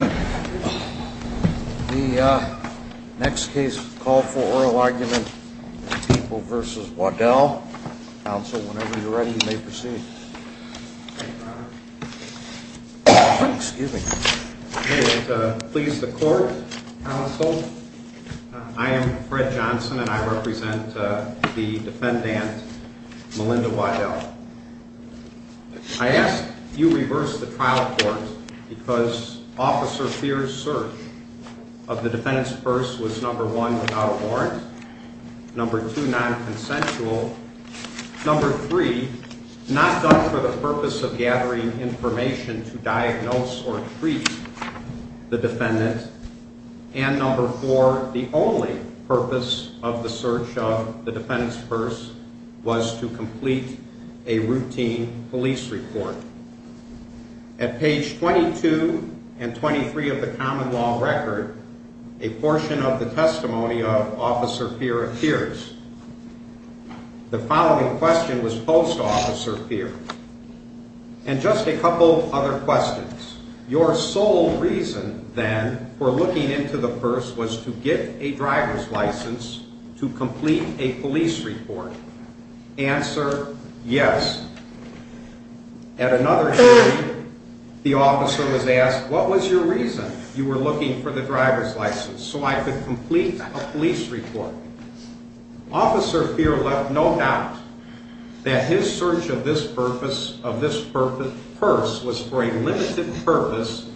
The next case is a call for oral argument, People v. Waddell. Counsel, whenever you're ready, you may proceed. Thank you, Your Honor. Excuse me. May it please the Court, Counsel. I am Fred Johnson, and I represent the defendant, Melinda Waddell. I ask that you reverse the trial court because Officer Fears' search of the defendant's purse was, number one, without a warrant, number two, non-consensual, number three, not done for the purpose of gathering information to diagnose or treat the defendant, and number four, the only purpose of the search of the defendant's purse was to complete a routine police report. At page 22 and 23 of the common law record, a portion of the testimony of Officer Fears appears. The following question was posed to Officer Fears, and just a couple of other questions. Your sole reason, then, for looking into the purse was to get a driver's license to complete a police report. Answer, yes. At another time, the officer was asked, what was your reason you were looking for the driver's license? So I could complete a police report. Officer Fears left no doubt that his search of this purpose, of this purse, was for a limited purpose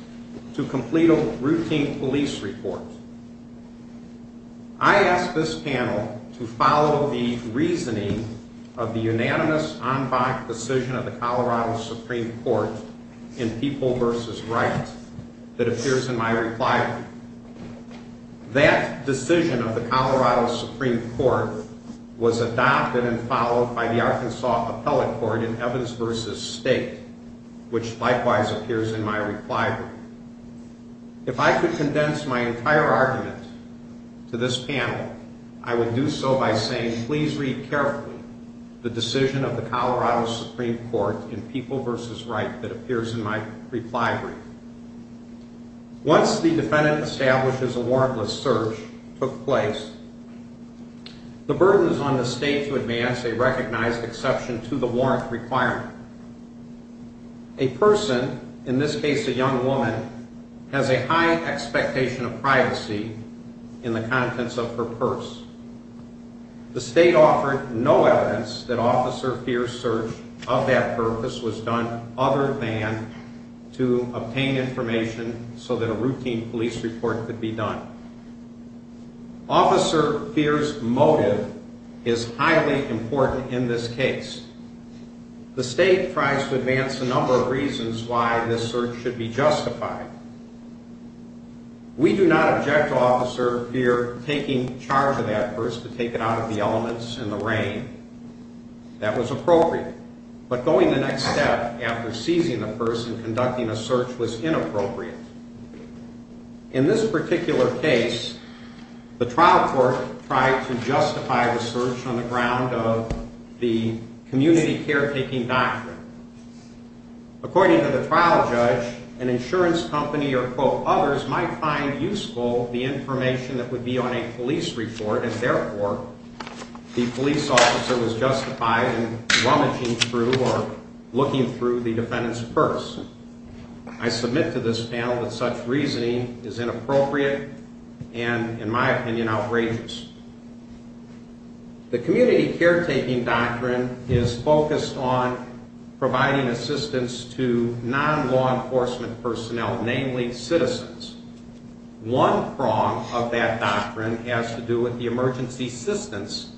to complete a routine police report. I ask this panel to follow the reasoning of the unanimous en banc decision of the Colorado Supreme Court in People v. Wright that appears in my reply. That decision of the Colorado Supreme Court was adopted and followed by the Arkansas Appellate Court in Evans v. State, which likewise appears in my reply. If I could condense my entire argument to this panel, I would do so by saying, please read carefully the decision of the Colorado Supreme Court in People v. Wright that appears in my reply. Once the defendant establishes a warrantless search took place, the burden is on the State to advance a recognized exception to the warrant requirement. A person, in this case a young woman, has a high expectation of privacy in the contents of her purse. The State offered no evidence that Officer Fears' search of that purpose was done other than to obtain information so that a routine police report could be done. Officer Fears' motive is highly important in this case. The State tries to advance a number of reasons why this search should be justified. We do not object to Officer Fears taking charge of that purse to take it out of the elements in the rain. That was appropriate. But going the next step after seizing the purse and conducting a search was inappropriate. In this particular case, the trial court tried to justify the search on the ground of the community caretaking doctrine. According to the trial judge, an insurance company or others might find useful the information that would be on a police report and therefore the police officer was justified in rummaging through or looking through the defendant's purse. I submit to this panel that such reasoning is inappropriate and, in my opinion, outrageous. The community caretaking doctrine is focused on providing assistance to non-law enforcement personnel, namely citizens. One prong of that doctrine has to do with the emergency assistance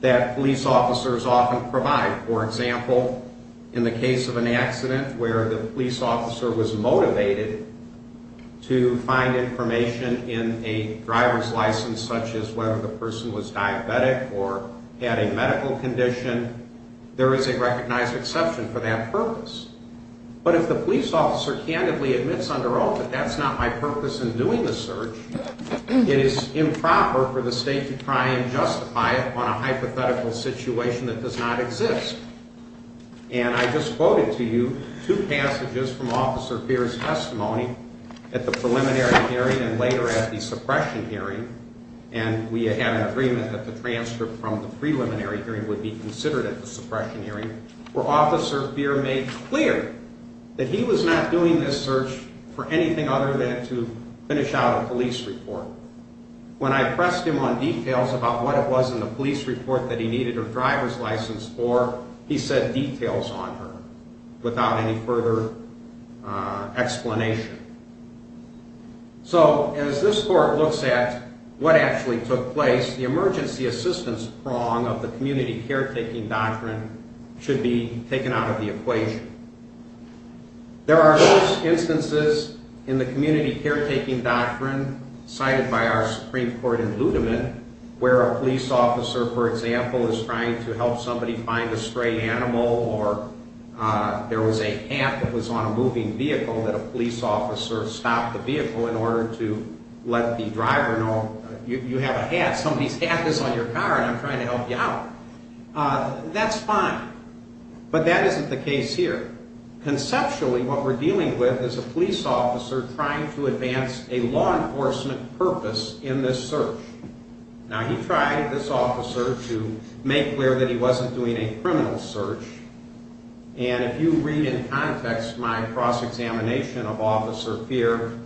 that police officers often provide. For example, in the case of an accident where the police officer was motivated to find information in a driver's license such as whether the person was diabetic or had a medical condition, there is a recognized exception for that purpose. But if the police officer candidly admits under oath that that's not my purpose in doing the search, it is improper for the state to try and justify it on a hypothetical situation that does not exist. And I just quoted to you two passages from Officer Feer's testimony at the preliminary hearing and later at the suppression hearing, and we had an agreement that the transcript from the preliminary hearing would be considered at the suppression hearing, where Officer Feer made clear that he was not doing this search for anything other than to finish out a police report. When I pressed him on details about what it was in the police report that he needed a driver's license for, he said details on her without any further explanation. So as this court looks at what actually took place, the emergency assistance prong of the community caretaking doctrine should be taken out of the equation. There are host instances in the community caretaking doctrine cited by our Supreme Court in Ludeman where a police officer, for example, is trying to help somebody find a stray animal or there was a cat that was on a moving vehicle that a police officer stopped the vehicle in order to let the driver know, you have a hat, somebody's hat is on your car and I'm trying to help you out. That's fine, but that isn't the case here. Conceptually, what we're dealing with is a police officer trying to advance a law enforcement purpose in this search. Now, he tried, this officer, to make clear that he wasn't doing a criminal search, and if you read in context my cross-examination of Officer Feer,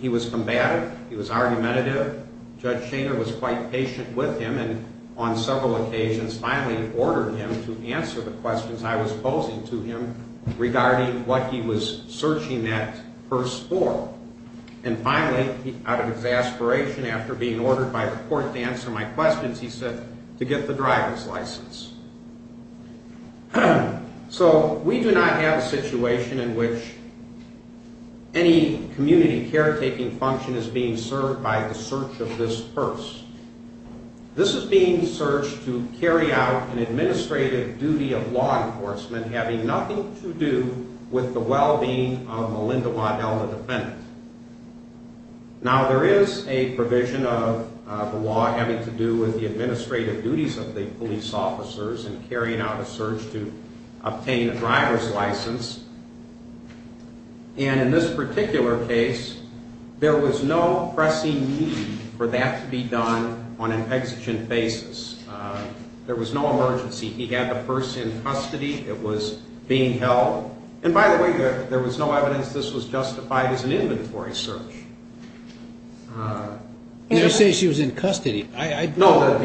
he was combative, he was argumentative, Judge Shaner was quite patient with him and on several occasions finally ordered him to answer the questions I was posing to him regarding what he was searching that purse for. And finally, out of exasperation after being ordered by the court to answer my questions, he said to get the driver's license. So, we do not have a situation in which any community care-taking function is being served by the search of this purse. This is being searched to carry out an administrative duty of law enforcement having nothing to do with the well-being of a Lindemann-Elna defendant. Now, there is a provision of the law having to do with the administrative duties of the police officers in carrying out a search to obtain a driver's license. And in this particular case, there was no pressing need for that to be done on an exigent basis. There was no emergency. He had the purse in custody. It was being held. And by the way, there was no evidence this was justified as an inventory search. You say she was in custody. No,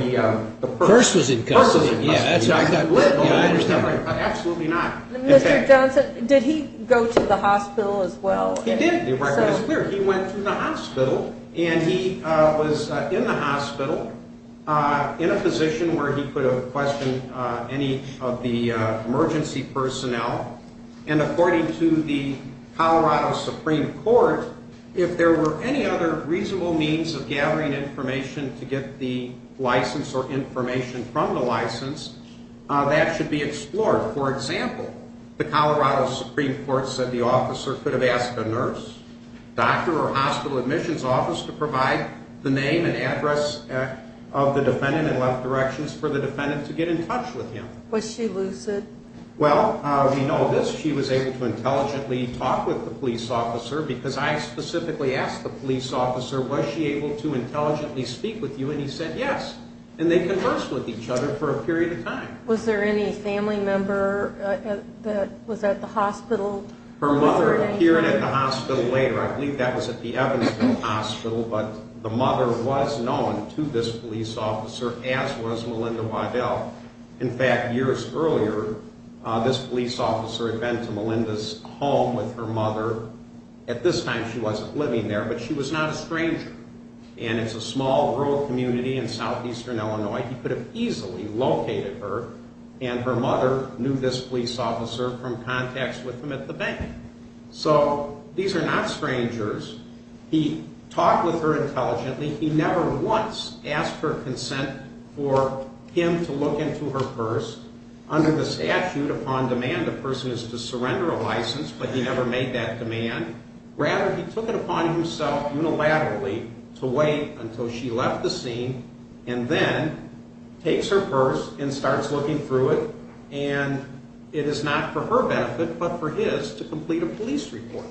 the purse was in custody. Mr. Johnson, did he go to the hospital as well? He did. He went to the hospital and he was in the hospital in a position where he could have questioned any of the emergency personnel and according to the Colorado Supreme Court, if there were any other reasonable means of gathering information to get the license or information from the license, that should be explored. For example, the Colorado Supreme Court said the officer could have asked a nurse, doctor, or hospital admissions office to provide the name and address of the defendant in left directions for the defendant to get in touch with him. Was she lucid? Well, we know this. She was able to intelligently talk with the police officer because I specifically asked the police officer, was she able to intelligently speak with you, and he said yes. And they conversed with each other for a period of time. Was there any family member that was at the hospital? Her mother appeared at the hospital later. I believe that was at the Evansville Hospital. But the mother was known to this police officer, as was Melinda Waddell. In fact, years earlier, this police officer had been to Melinda's home with her mother. At this time, she wasn't living there, but she was not a stranger. And it's a small rural community in southeastern Illinois. He could have easily located her, and her mother knew this police officer from contacts with him at the bank. So these are not strangers. He talked with her intelligently. He never once asked her consent for him to look into her purse. Under the statute, upon demand, a person is to surrender a license, but he never made that demand. Rather, he took it upon himself unilaterally to wait until she left the scene and then takes her purse and starts looking through it, and it is not for her benefit but for his to complete a police report.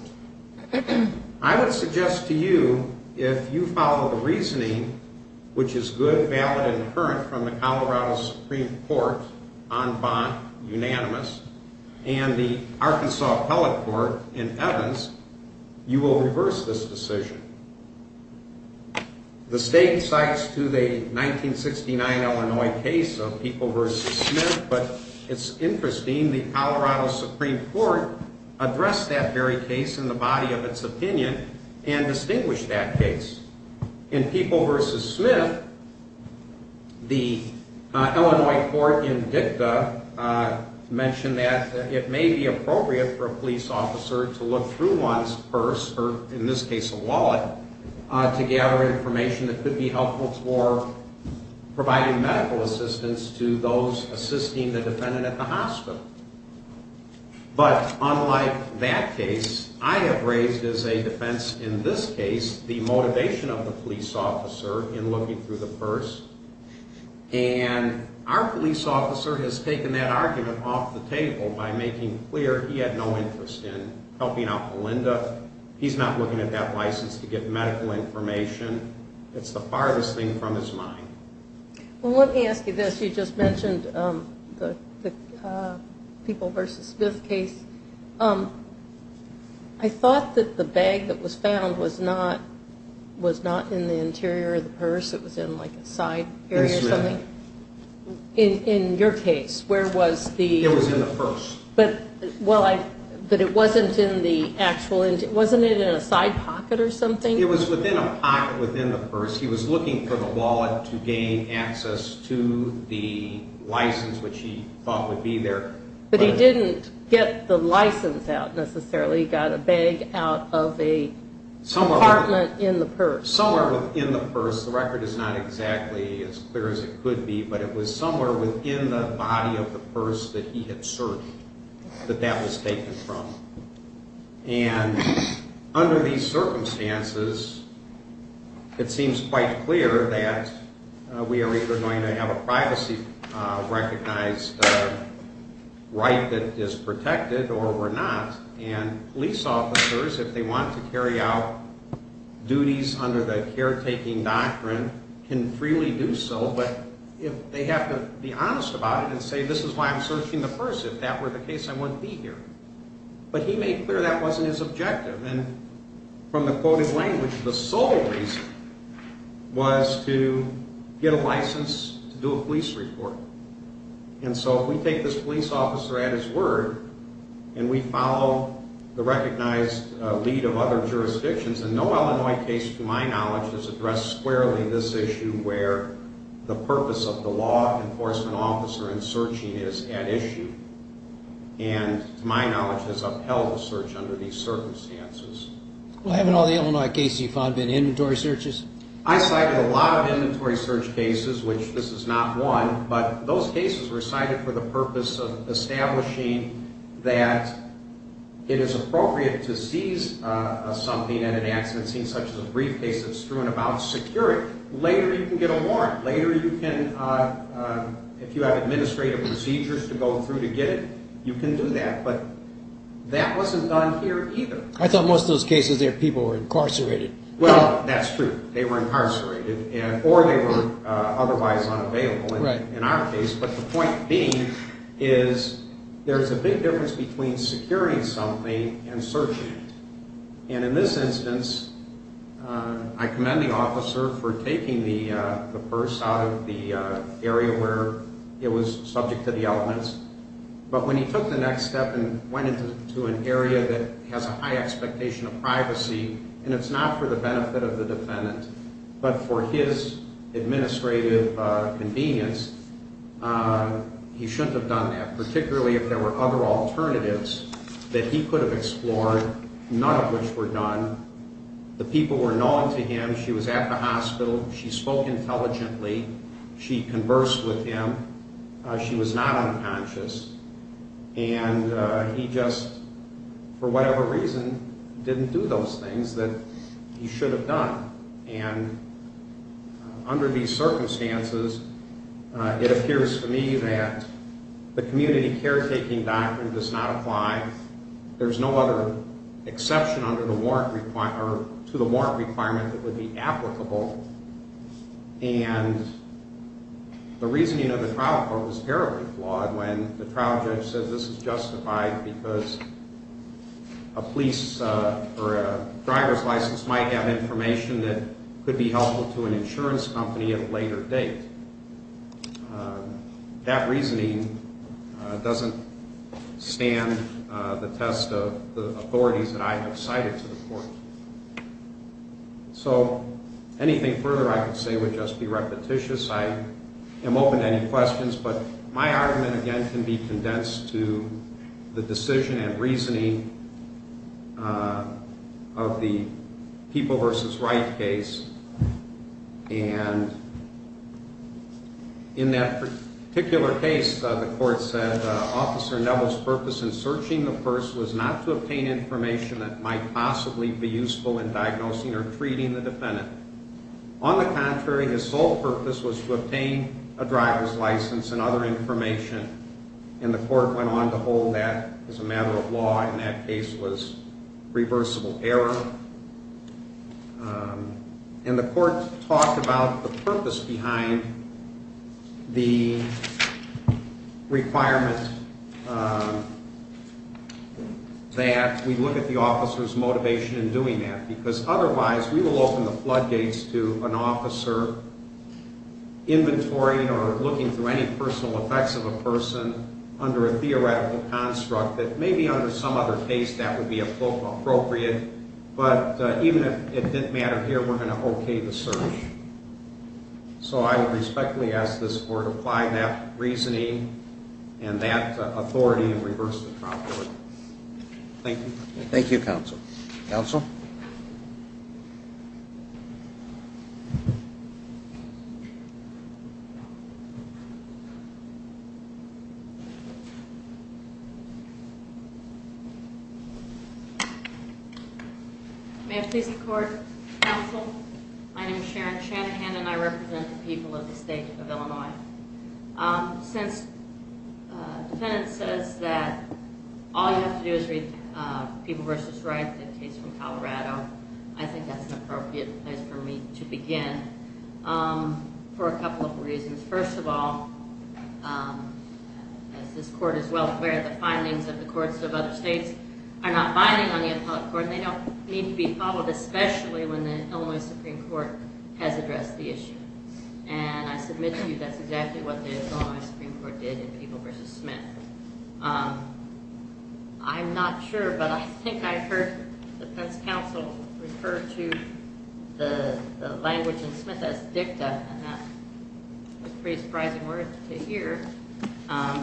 I would suggest to you, if you follow the reasoning, which is good, valid, and current from the Colorado Supreme Court, en banc, unanimous, and the Arkansas Appellate Court in Evans, you will reverse this decision. The state cites to the 1969 Illinois case of People v. Smith, but it's interesting, the Colorado Supreme Court addressed that very case in the body of its opinion and distinguished that case. In People v. Smith, the Illinois court in dicta mentioned that it may be appropriate for a police officer to look through one's purse, or in this case a wallet, to gather information that could be helpful for providing medical assistance to those assisting the defendant at the hospital. But unlike that case, I have raised as a defense in this case the motivation of the police officer in looking through the purse, and our police officer has taken that argument off the table by making clear he had no interest in helping out Melinda. He's not looking at that license to get medical information. It's the farthest thing from his mind. Well, let me ask you this. You just mentioned the People v. Smith case. I thought that the bag that was found was not in the interior of the purse. It was in, like, a side area or something. In your case, where was the... It was in the purse. But it wasn't in the actual interior. Wasn't it in a side pocket or something? It was within a pocket within the purse. He was looking for the wallet to gain access to the license, which he thought would be there. But he didn't get the license out necessarily. He got a bag out of a compartment in the purse. Somewhere within the purse. The record is not exactly as clear as it could be, but it was somewhere within the body of the purse that he had searched, that that was taken from. And under these circumstances, it seems quite clear that we are either going to have a privacy-recognized right that is protected or we're not. And police officers, if they want to carry out duties under the caretaking doctrine, can freely do so. But if they have to be honest about it and say, this is why I'm searching the purse. If that were the case, I wouldn't be here. But he made clear that wasn't his objective. And from the quoted language, the sole reason was to get a license to do a police report. And so if we take this police officer at his word and we follow the recognized lead of other jurisdictions, and no Illinois case to my knowledge has addressed squarely this issue where the purpose of the law enforcement officer in searching is at issue and, to my knowledge, has upheld the search under these circumstances. Well, haven't all the Illinois cases you've found been inventory searches? I cited a lot of inventory search cases, which this is not one, but those cases were cited for the purpose of establishing that it is appropriate to seize something at an accident scene, such as a briefcase that's strewn about security. Later you can get a warrant. Later you can, if you have administrative procedures to go through to get it, you can do that. But that wasn't done here either. I thought most of those cases there, people were incarcerated. Well, that's true. They were incarcerated or they were otherwise unavailable in our case. But the point being is there's a big difference between securing something and searching it. And in this instance, I commend the officer for taking the purse out of the area where it was subject to the elements. But when he took the next step and went into an area that has a high expectation of privacy, and it's not for the benefit of the defendant but for his administrative convenience, he shouldn't have done that, particularly if there were other alternatives that he could have explored, none of which were done. The people were known to him. She was at the hospital. She spoke intelligently. She conversed with him. She was not unconscious. And he just, for whatever reason, didn't do those things that he should have done. And under these circumstances, it appears to me that the community caretaking doctrine does not apply. There's no other exception to the warrant requirement that would be applicable. And the reasoning of the trial court was terribly flawed when the trial judge said this is justified because a police or a driver's license might have information that could be helpful to an insurance company at a later date. That reasoning doesn't stand the test of the authorities that I have cited to the court. So anything further I could say would just be repetitious. I am open to any questions. But my argument, again, can be condensed to the decision and reasoning of the People v. Wright case. And in that particular case, the court said, Officer Neville's purpose in searching the purse was not to obtain information that might possibly be useful in diagnosing or treating the defendant. On the contrary, his sole purpose was to obtain a driver's license and other information. And the court went on to hold that as a matter of law. And that case was reversible error. And the court talked about the purpose behind the requirement that we look at the officer's motivation in doing that because otherwise we will open the floodgates to an officer inventorying or looking through any personal effects of a person under a theoretical construct that maybe under some other case that would be appropriate. But even if it didn't matter here, we're going to okay the search. So I would respectfully ask this court to apply that reasoning and that authority and reverse the trial court. Thank you. Thank you, counsel. Counsel? May I please record, counsel? My name is Sharon Shanahan, and I represent the people of the state of Illinois. Since the defendant says that all you have to do is read People v. Wright, the case from Colorado, I think that's an appropriate place for me to begin for a couple of reasons. First of all, as this court is well aware, the findings of the courts of other states are not binding on the appellate court. They don't need to be followed, especially when the Illinois Supreme Court has addressed the issue. And I submit to you that's exactly what the Illinois Supreme Court did in People v. Smith. I'm not sure, but I think I heard the defense counsel refer to the language in Smith as dicta, and that was a pretty surprising word to hear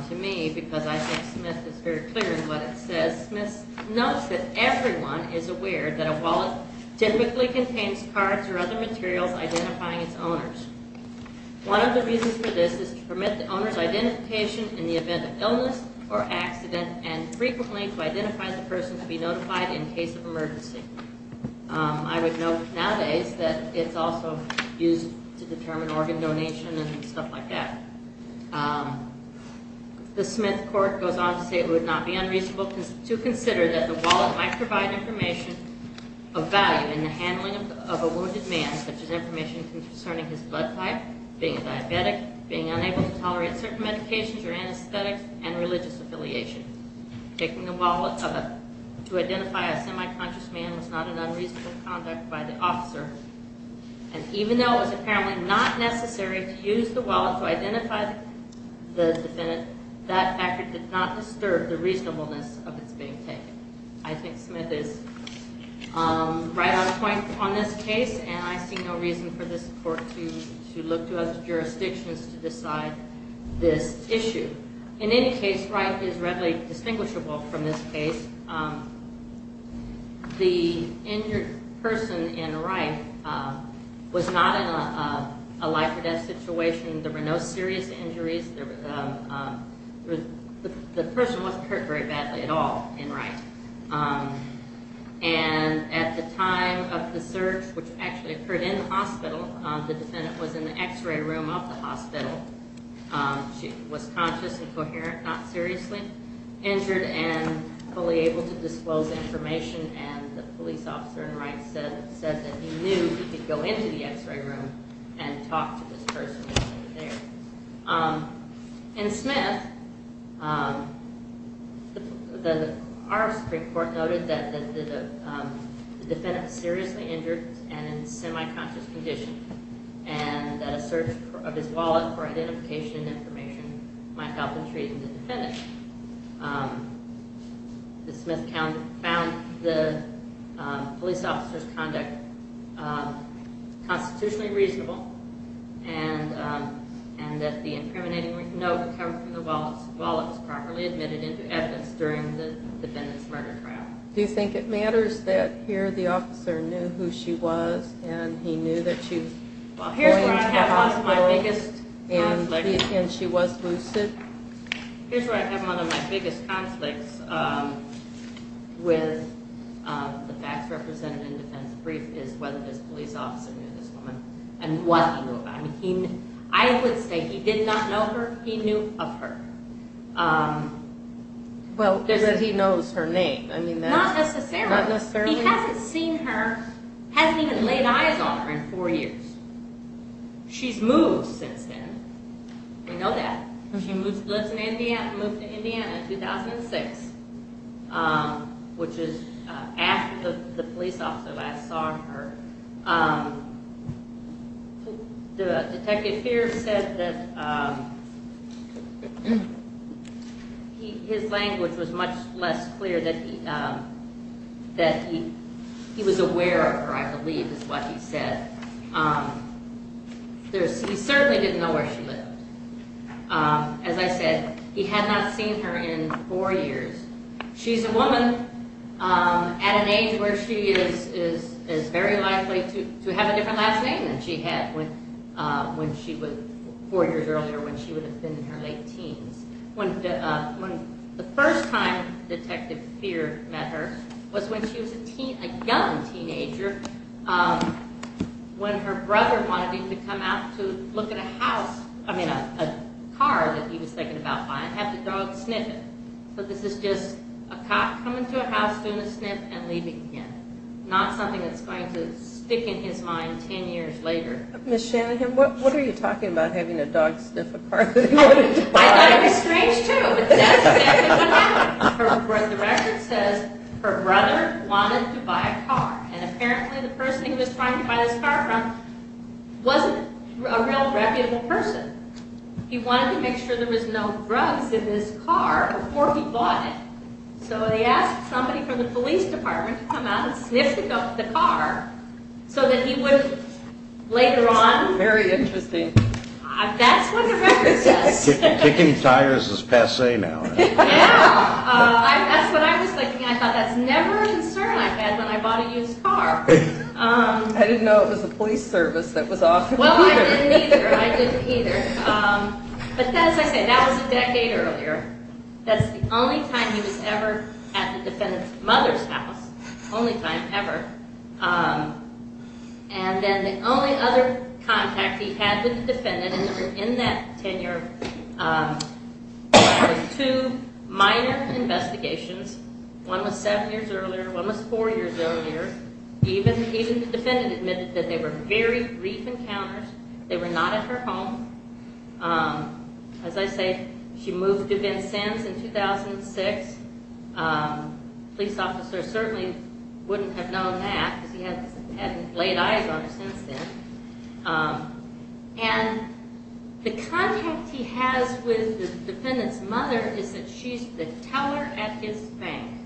to me because I think Smith is very clear in what it says. Smith notes that everyone is aware that a wallet typically contains cards or other materials identifying its owners. One of the reasons for this is to permit the owner's identification in the event of illness or accident and frequently to identify the person to be notified in case of emergency. I would note nowadays that it's also used to determine organ donation and stuff like that. The Smith court goes on to say it would not be unreasonable to consider that the wallet might provide information of value in the handling of a wounded man, such as information concerning his blood type, being a diabetic, being unable to tolerate certain medications or anesthetics, and religious affiliation. Taking the wallet to identify a semi-conscious man was not an unreasonable conduct by the officer. And even though it was apparently not necessary to use the wallet to identify the defendant, that factor did not disturb the reasonableness of its being taken. I think Smith is right on point on this case, and I see no reason for this court to look to other jurisdictions to decide this issue. In any case, Wright is readily distinguishable from this case. The injured person in Wright was not in a life-or-death situation. There were no serious injuries. The person wasn't hurt very badly at all in Wright. And at the time of the search, which actually occurred in the hospital, the defendant was in the X-ray room of the hospital. She was conscious and coherent, not seriously injured, and fully able to disclose information. And the police officer in Wright said that he knew he could go into the X-ray room and talk to this person over there. In Smith, our Supreme Court noted that the defendant was seriously injured and in semi-conscious condition, and that a search of his wallet for identification and information might help in treating the defendant. Ms. Smith found the police officer's conduct constitutionally reasonable, and that the incriminating note covered for the wallet was properly admitted into evidence during the defendant's murder trial. Do you think it matters that here the officer knew who she was, and he knew that she was behind the hospital, and she was lucid? Here's where I have one of my biggest conflicts with the facts represented in the defense brief, is whether this police officer knew this woman, and what he knew about her. I would say he did not know her, he knew of her. Well, that he knows her name. Not necessarily. He hasn't seen her, hasn't even laid eyes on her in four years. She's moved since then, we know that. She lives in Indiana, moved to Indiana in 2006, which is after the police officer last saw her. The detective here said that his language was much less clear, that he was aware of her, I believe is what he said. He certainly didn't know where she lived. As I said, he had not seen her in four years. She's a woman at an age where she is very likely to have a different last name than she had four years earlier, when she would have been in her late teens. When the first time Detective Fear met her was when she was a young teenager, when her brother wanted her to come out to look at a house, I mean a car that he was thinking about buying, and have the dog sniff it. So this is just a cop coming to a house, doing a sniff, and leaving again. Not something that's going to stick in his mind ten years later. Miss Shanahan, what are you talking about, having a dog sniff a car? I thought it was strange too. The record says her brother wanted to buy a car, and apparently the person he was trying to buy this car from wasn't a real reputable person. He wanted to make sure there was no drugs in his car before he bought it. So he asked somebody from the police department to come out and sniff the car, so that he would later on... Very interesting. That's what the record says. Kicking tires is passe now. Yeah, that's what I was thinking. I thought that's never a concern I've had when I bought a used car. I didn't know it was the police service that was off. Well, I didn't either. But as I said, that was a decade earlier. That's the only time he was ever at the defendant's mother's house. Only time ever. And then the only other contact he had with the defendant in that tenure were two minor investigations. One was seven years earlier, one was four years earlier. Even the defendant admitted that they were very brief encounters. They were not at her home. As I said, she moved to Vincennes in 2006. A police officer certainly wouldn't have known that, because he hadn't laid eyes on her since then. And the contact he has with the defendant's mother is that she's the teller at his bank.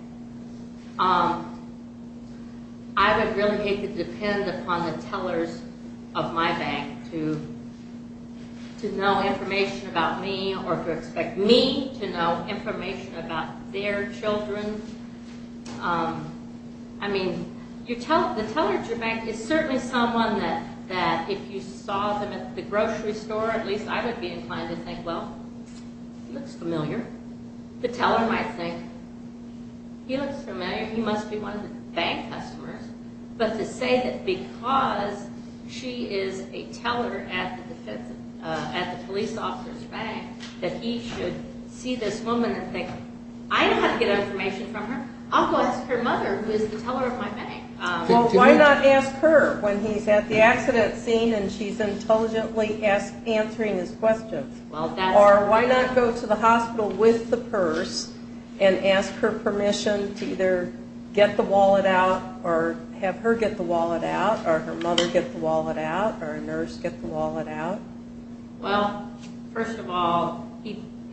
I would really hate to depend upon the tellers of my bank to know information about me, or to expect me to know information about their children. I mean, the teller at your bank is certainly someone that, if you saw them at the grocery store, at least I would be inclined to think, well, he looks familiar. The teller might think, he looks familiar, he must be one of the bank customers. But to say that because she is a teller at the police officer's bank, that he should see this woman and think, I don't have to get information from her. I'll go ask her mother, who is the teller at my bank. Well, why not ask her when he's at the accident scene and she's intelligently answering his questions? Or why not go to the hospital with the purse and ask her permission to either get the wallet out, or have her get the wallet out, or her mother get the wallet out, or a nurse get the wallet out? Well, first of all,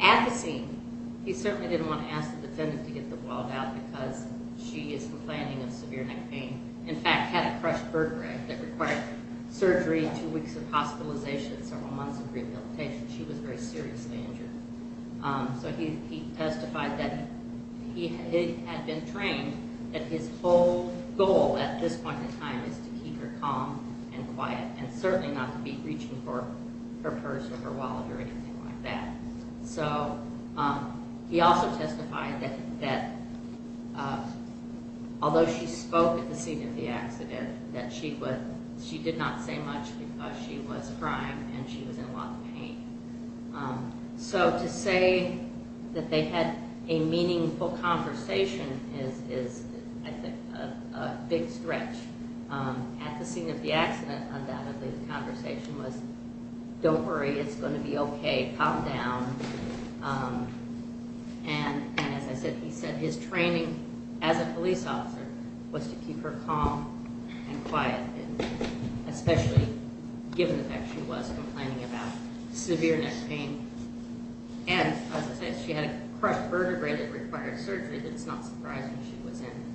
at the scene, he certainly didn't want to ask the defendant to get the wallet out because she is complaining of severe neck pain. In fact, had a crushed vertebrae that required surgery, two weeks of hospitalization, several months of rehabilitation. She was very seriously injured. So he testified that he had been trained that his whole goal at this point in time is to keep her calm and quiet, and certainly not to be reaching for her purse or her wallet or anything like that. So he also testified that although she spoke at the scene of the accident, that she did not say much because she was crying and she was in a lot of pain. So to say that they had a meaningful conversation is, I think, a big stretch. At the scene of the accident, undoubtedly, the conversation was, don't worry, it's going to be okay, calm down. And as I said, he said his training as a police officer was to keep her calm and quiet, especially given the fact she was complaining about severe neck pain. And as I said, she had a crushed vertebrae that required surgery. It's not surprising she was in.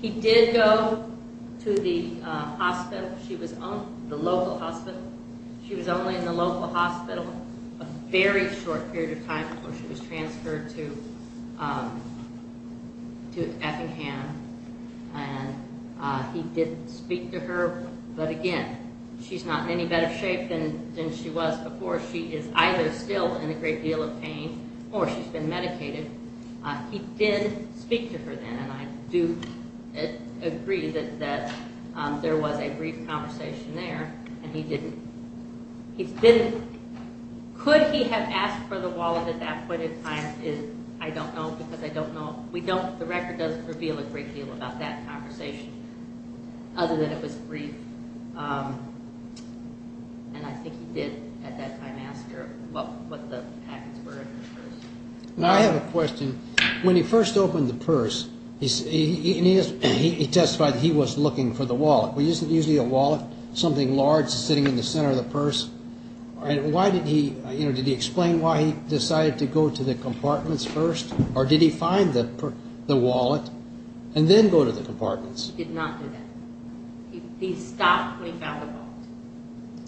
He did go to the hospital, the local hospital. She was only in the local hospital a very short period of time before she was transferred to Effingham. And he did speak to her, but again, she's not in any better shape than she was before. She is either still in a great deal of pain or she's been medicated. He did speak to her then, and I do agree that there was a brief conversation there, and he didn't. Could he have asked for the wallet at that point in time? I don't know because I don't know. The record doesn't reveal a great deal about that conversation other than it was brief. And I think he did at that time ask her what the packets were at first. Now I have a question. When he first opened the purse, he testified he was looking for the wallet. Was it usually a wallet, something large sitting in the center of the purse? Did he explain why he decided to go to the compartments first? Or did he find the wallet and then go to the compartments? He did not do that. He stopped when he found the wallet.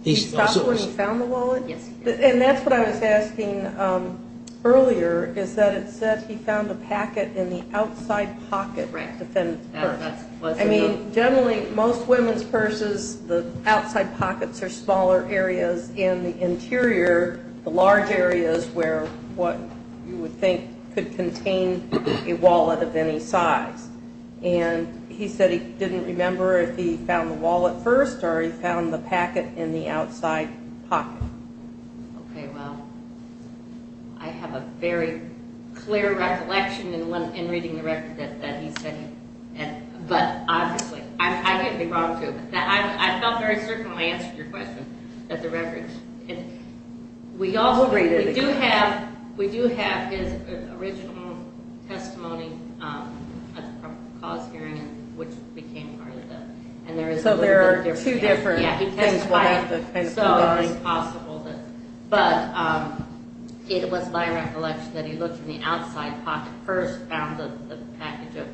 He stopped when he found the wallet? And that's what I was asking earlier, is that it said he found the packet in the outside pocket. I mean, generally, most women's purses, the outside pockets are smaller areas, and the interior, the large areas where what you would think could contain a wallet of any size. And he said he didn't remember if he found the wallet first or he found the packet in the outside pocket. Okay, well, I have a very clear recollection in reading the record that he said he had. But obviously, I can't be wrong, too. I felt very certain when I answered your question that the record. We do have his original testimony at the cause hearing, which became part of that. So there are two different things. Yeah, he testified, so it's possible. But it was my recollection that he looked in the outside pocket first, found the package of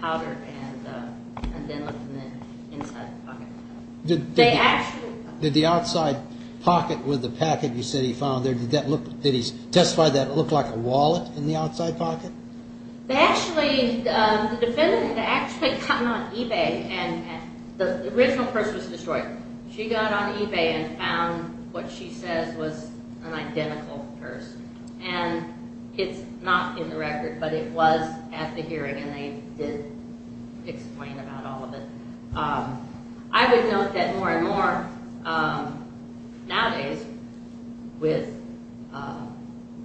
powder, and then looked in the inside pocket. Did the outside pocket with the packet you said he found there, did he testify that it looked like a wallet in the outside pocket? The defendant had actually gotten on eBay, and the original purse was destroyed. She got on eBay and found what she says was an identical purse. And it's not in the record, but it was at the hearing, and they did explain about all of it. I would note that more and more nowadays with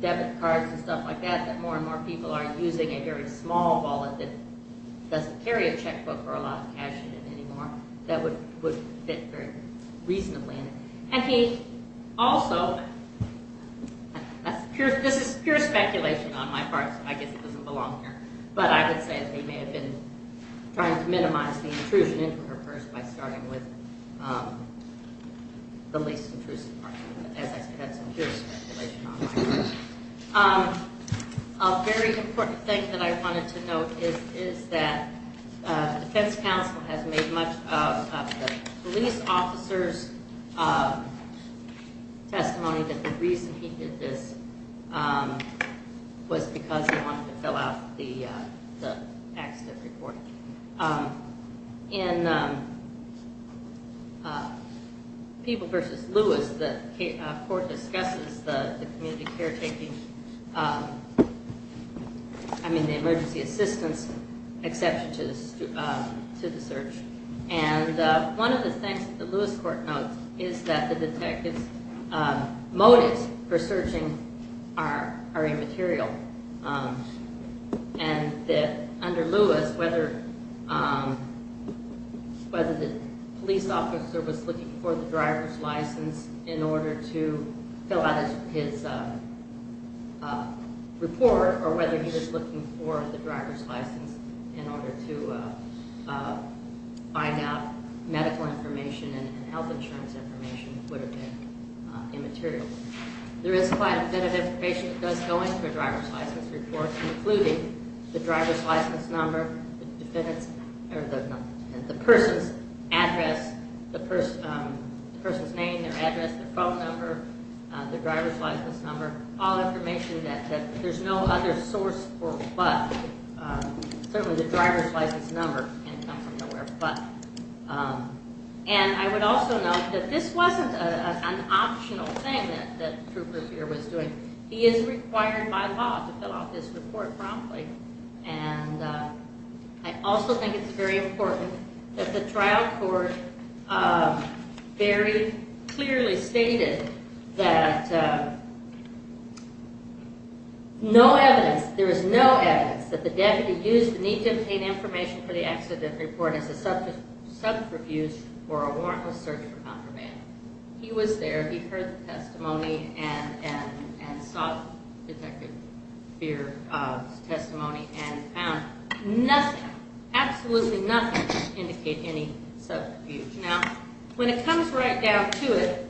debit cards and stuff like that, that more and more people are using a very small wallet that doesn't carry a checkbook or a lot of cash in it anymore that would fit very reasonably. And he also, this is pure speculation on my part, so I guess it doesn't belong here, but I would say that they may have been trying to minimize the intrusion into her purse by starting with the least intrusive part of it, as I said, that's pure speculation on my part. A very important thing that I wanted to note is that the defense counsel has made much of the police officer's testimony that the reason he did this was because he wanted to fill out the accident report. In People v. Lewis, the court discusses the community caretaking, I mean the emergency assistance exception to the search. And one of the things that the Lewis court notes is that the detective's motives for searching are immaterial. And that under Lewis, whether the police officer was looking for the driver's license in order to fill out his report or whether he was looking for the driver's license in order to find out medical information and health insurance information would have been immaterial. There is quite a bit of information that does go into a driver's license report, including the driver's license number, the person's address, the person's name, their address, their phone number, the driver's license number, all information that there's no other source for but. Certainly the driver's license number can't come from nowhere but. And I would also note that this wasn't an optional thing that Trooper Beer was doing. He is required by law to fill out this report promptly. And I also think it's very important that the trial court very clearly stated that no evidence, there is no evidence that the deputy used the need-to-obtain-information-for-the-accident report as a subterfuge for a warrantless search for contraband. He was there, he heard the testimony and sought Detective Beer's testimony and found nothing, absolutely nothing to indicate any subterfuge. Now, when it comes right down to it,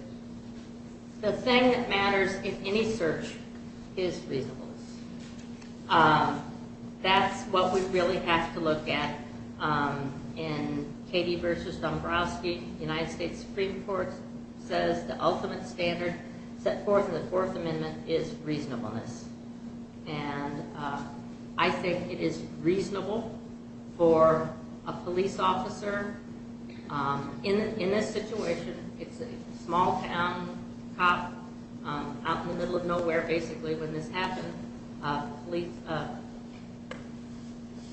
the thing that matters in any search is reasonableness. That's what we really have to look at in Katie v. Dombrowski. The United States Supreme Court says the ultimate standard set forth in the Fourth Amendment is reasonableness. And I think it is reasonable for a police officer in this situation, it's a small-town cop out in the middle of nowhere basically when this happened,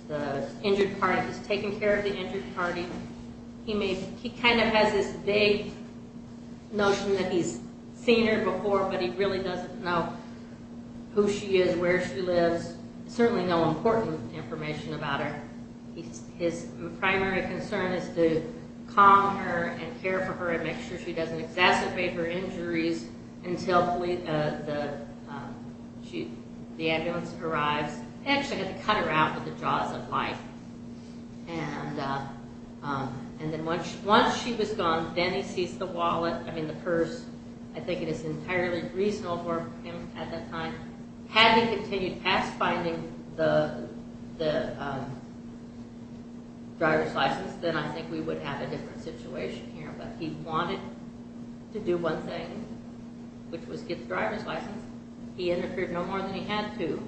the injured party was taking care of the injured party. He kind of has this vague notion that he's seen her before but he really doesn't know who she is, where she lives, certainly no important information about her. His primary concern is to calm her and care for her and make sure she doesn't exacerbate her injuries until the ambulance arrives. He actually had to cut her out with the jaws of life. And then once she was gone, then he sees the wallet, I mean the purse, I think it is entirely reasonable for him at that time. Had he continued past finding the driver's license, then I think we would have a different situation here. But he wanted to do one thing, which was get the driver's license. He interfered no more than he had to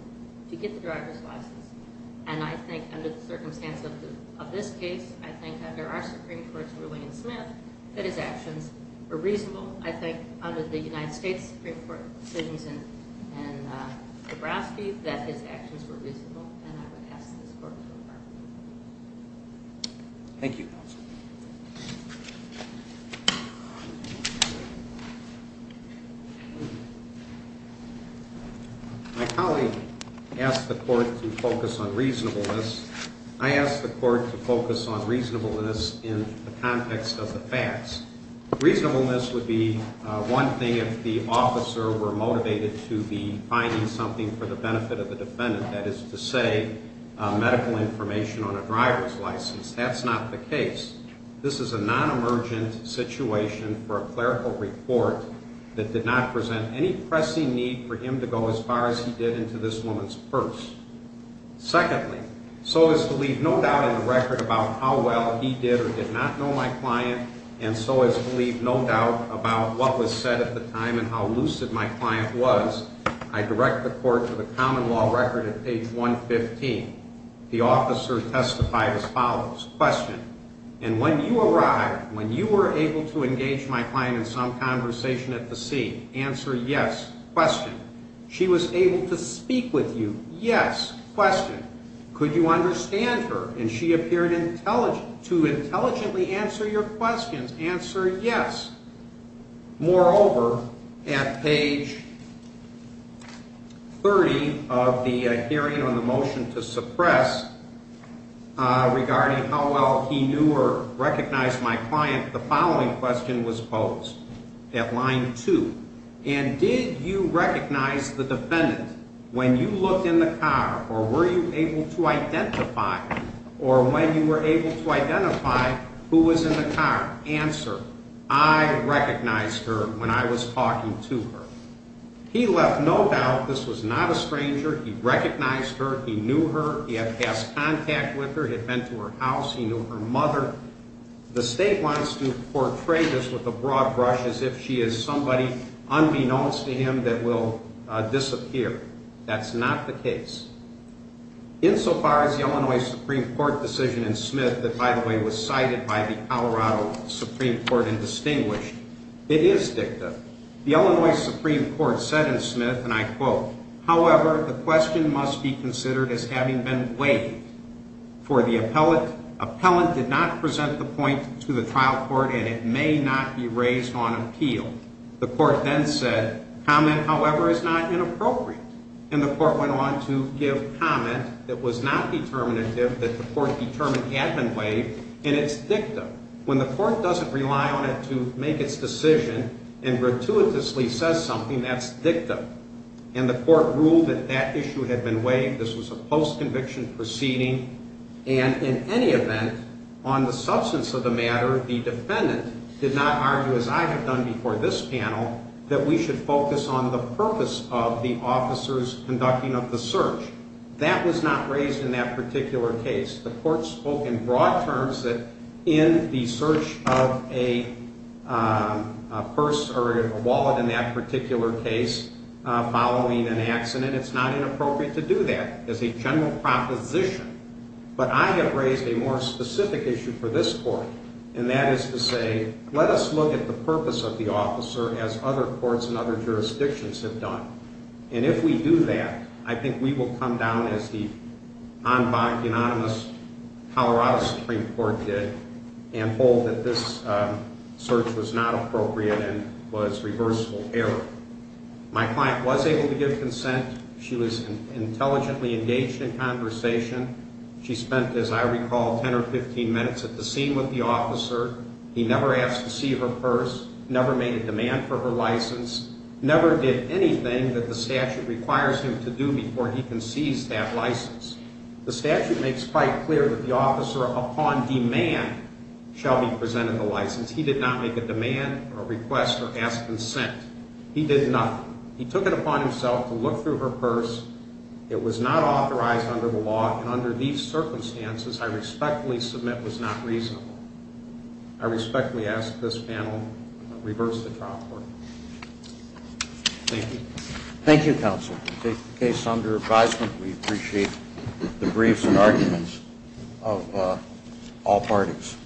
to get the driver's license. And I think under the circumstance of this case, I think under our Supreme Court's ruling in Smith, that his actions were reasonable. I think under the United States Supreme Court's decisions in Nebraska, that his actions were reasonable. And I would ask this Court to approve. Thank you. My colleague asked the Court to focus on reasonableness. I asked the Court to focus on reasonableness in the context of the facts. Reasonableness would be one thing if the officer were motivated to be finding something for the benefit of the defendant. That is to say, medical information on a driver's license. That's not the case. This is a non-emergent situation for a clerical report that did not present any pressing need for him to go as far as he did into this woman's purse. Secondly, so as to leave no doubt in the record about how well he did or did not know my client, and so as to leave no doubt about what was said at the time and how lucid my client was, I direct the Court to the common law record at page 115. The officer testified as follows. Question. And when you arrived, when you were able to engage my client in some conversation at the scene, answer yes. Question. She was able to speak with you. Yes. Question. Could you understand her? And she appeared to intelligently answer your questions. Answer yes. Moreover, at page 30 of the hearing on the motion to suppress regarding how well he knew or recognized my client, the following question was posed at line 2. And did you recognize the defendant when you looked in the car or were you able to identify or when you were able to identify who was in the car? Answer, I recognized her when I was talking to her. He left no doubt this was not a stranger. He recognized her. He knew her. He had passed contact with her. He had been to her house. He knew her mother. The State wants to portray this with a broad brush as if she is somebody unbeknownst to him that will disappear. That's not the case. Insofar as the Illinois Supreme Court decision in Smith that, by the way, was cited by the Colorado Supreme Court and distinguished, it is dicta. The Illinois Supreme Court said in Smith, and I quote, However, the question must be considered as having been waived. For the appellant did not present the point to the trial court and it may not be raised on appeal. The court then said, comment, however, is not inappropriate. And the court went on to give comment that was not determinative, that the court determined had been waived, and it's dicta. When the court doesn't rely on it to make its decision and gratuitously says something, that's dicta. And the court ruled that that issue had been waived. This was a post-conviction proceeding. And in any event, on the substance of the matter, the defendant did not argue, as I have done before this panel, that we should focus on the purpose of the officers conducting of the search. That was not raised in that particular case. The court spoke in broad terms that in the search of a purse or a wallet in that particular case following an accident, it's not inappropriate to do that as a general proposition. But I have raised a more specific issue for this court, and that is to say, let us look at the purpose of the officer as other courts and other jurisdictions have done. And if we do that, I think we will come down as the unanimous Colorado Supreme Court did and hold that this search was not appropriate and was reversible error. My client was able to give consent. She was intelligently engaged in conversation. She spent, as I recall, 10 or 15 minutes at the scene with the officer. He never asked to see her purse, never made a demand for her license, never did anything that the statute requires him to do before he can seize that license. The statute makes quite clear that the officer, upon demand, shall be presented the license. He did not make a demand or request or ask consent. He did nothing. He took it upon himself to look through her purse. It was not authorized under the law, and under these circumstances, I respectfully submit, was not reasonable. I respectfully ask this panel to reverse the trial court. Thank you. Thank you, counsel. We take the case under advisement. We appreciate the briefs and arguments of all parties.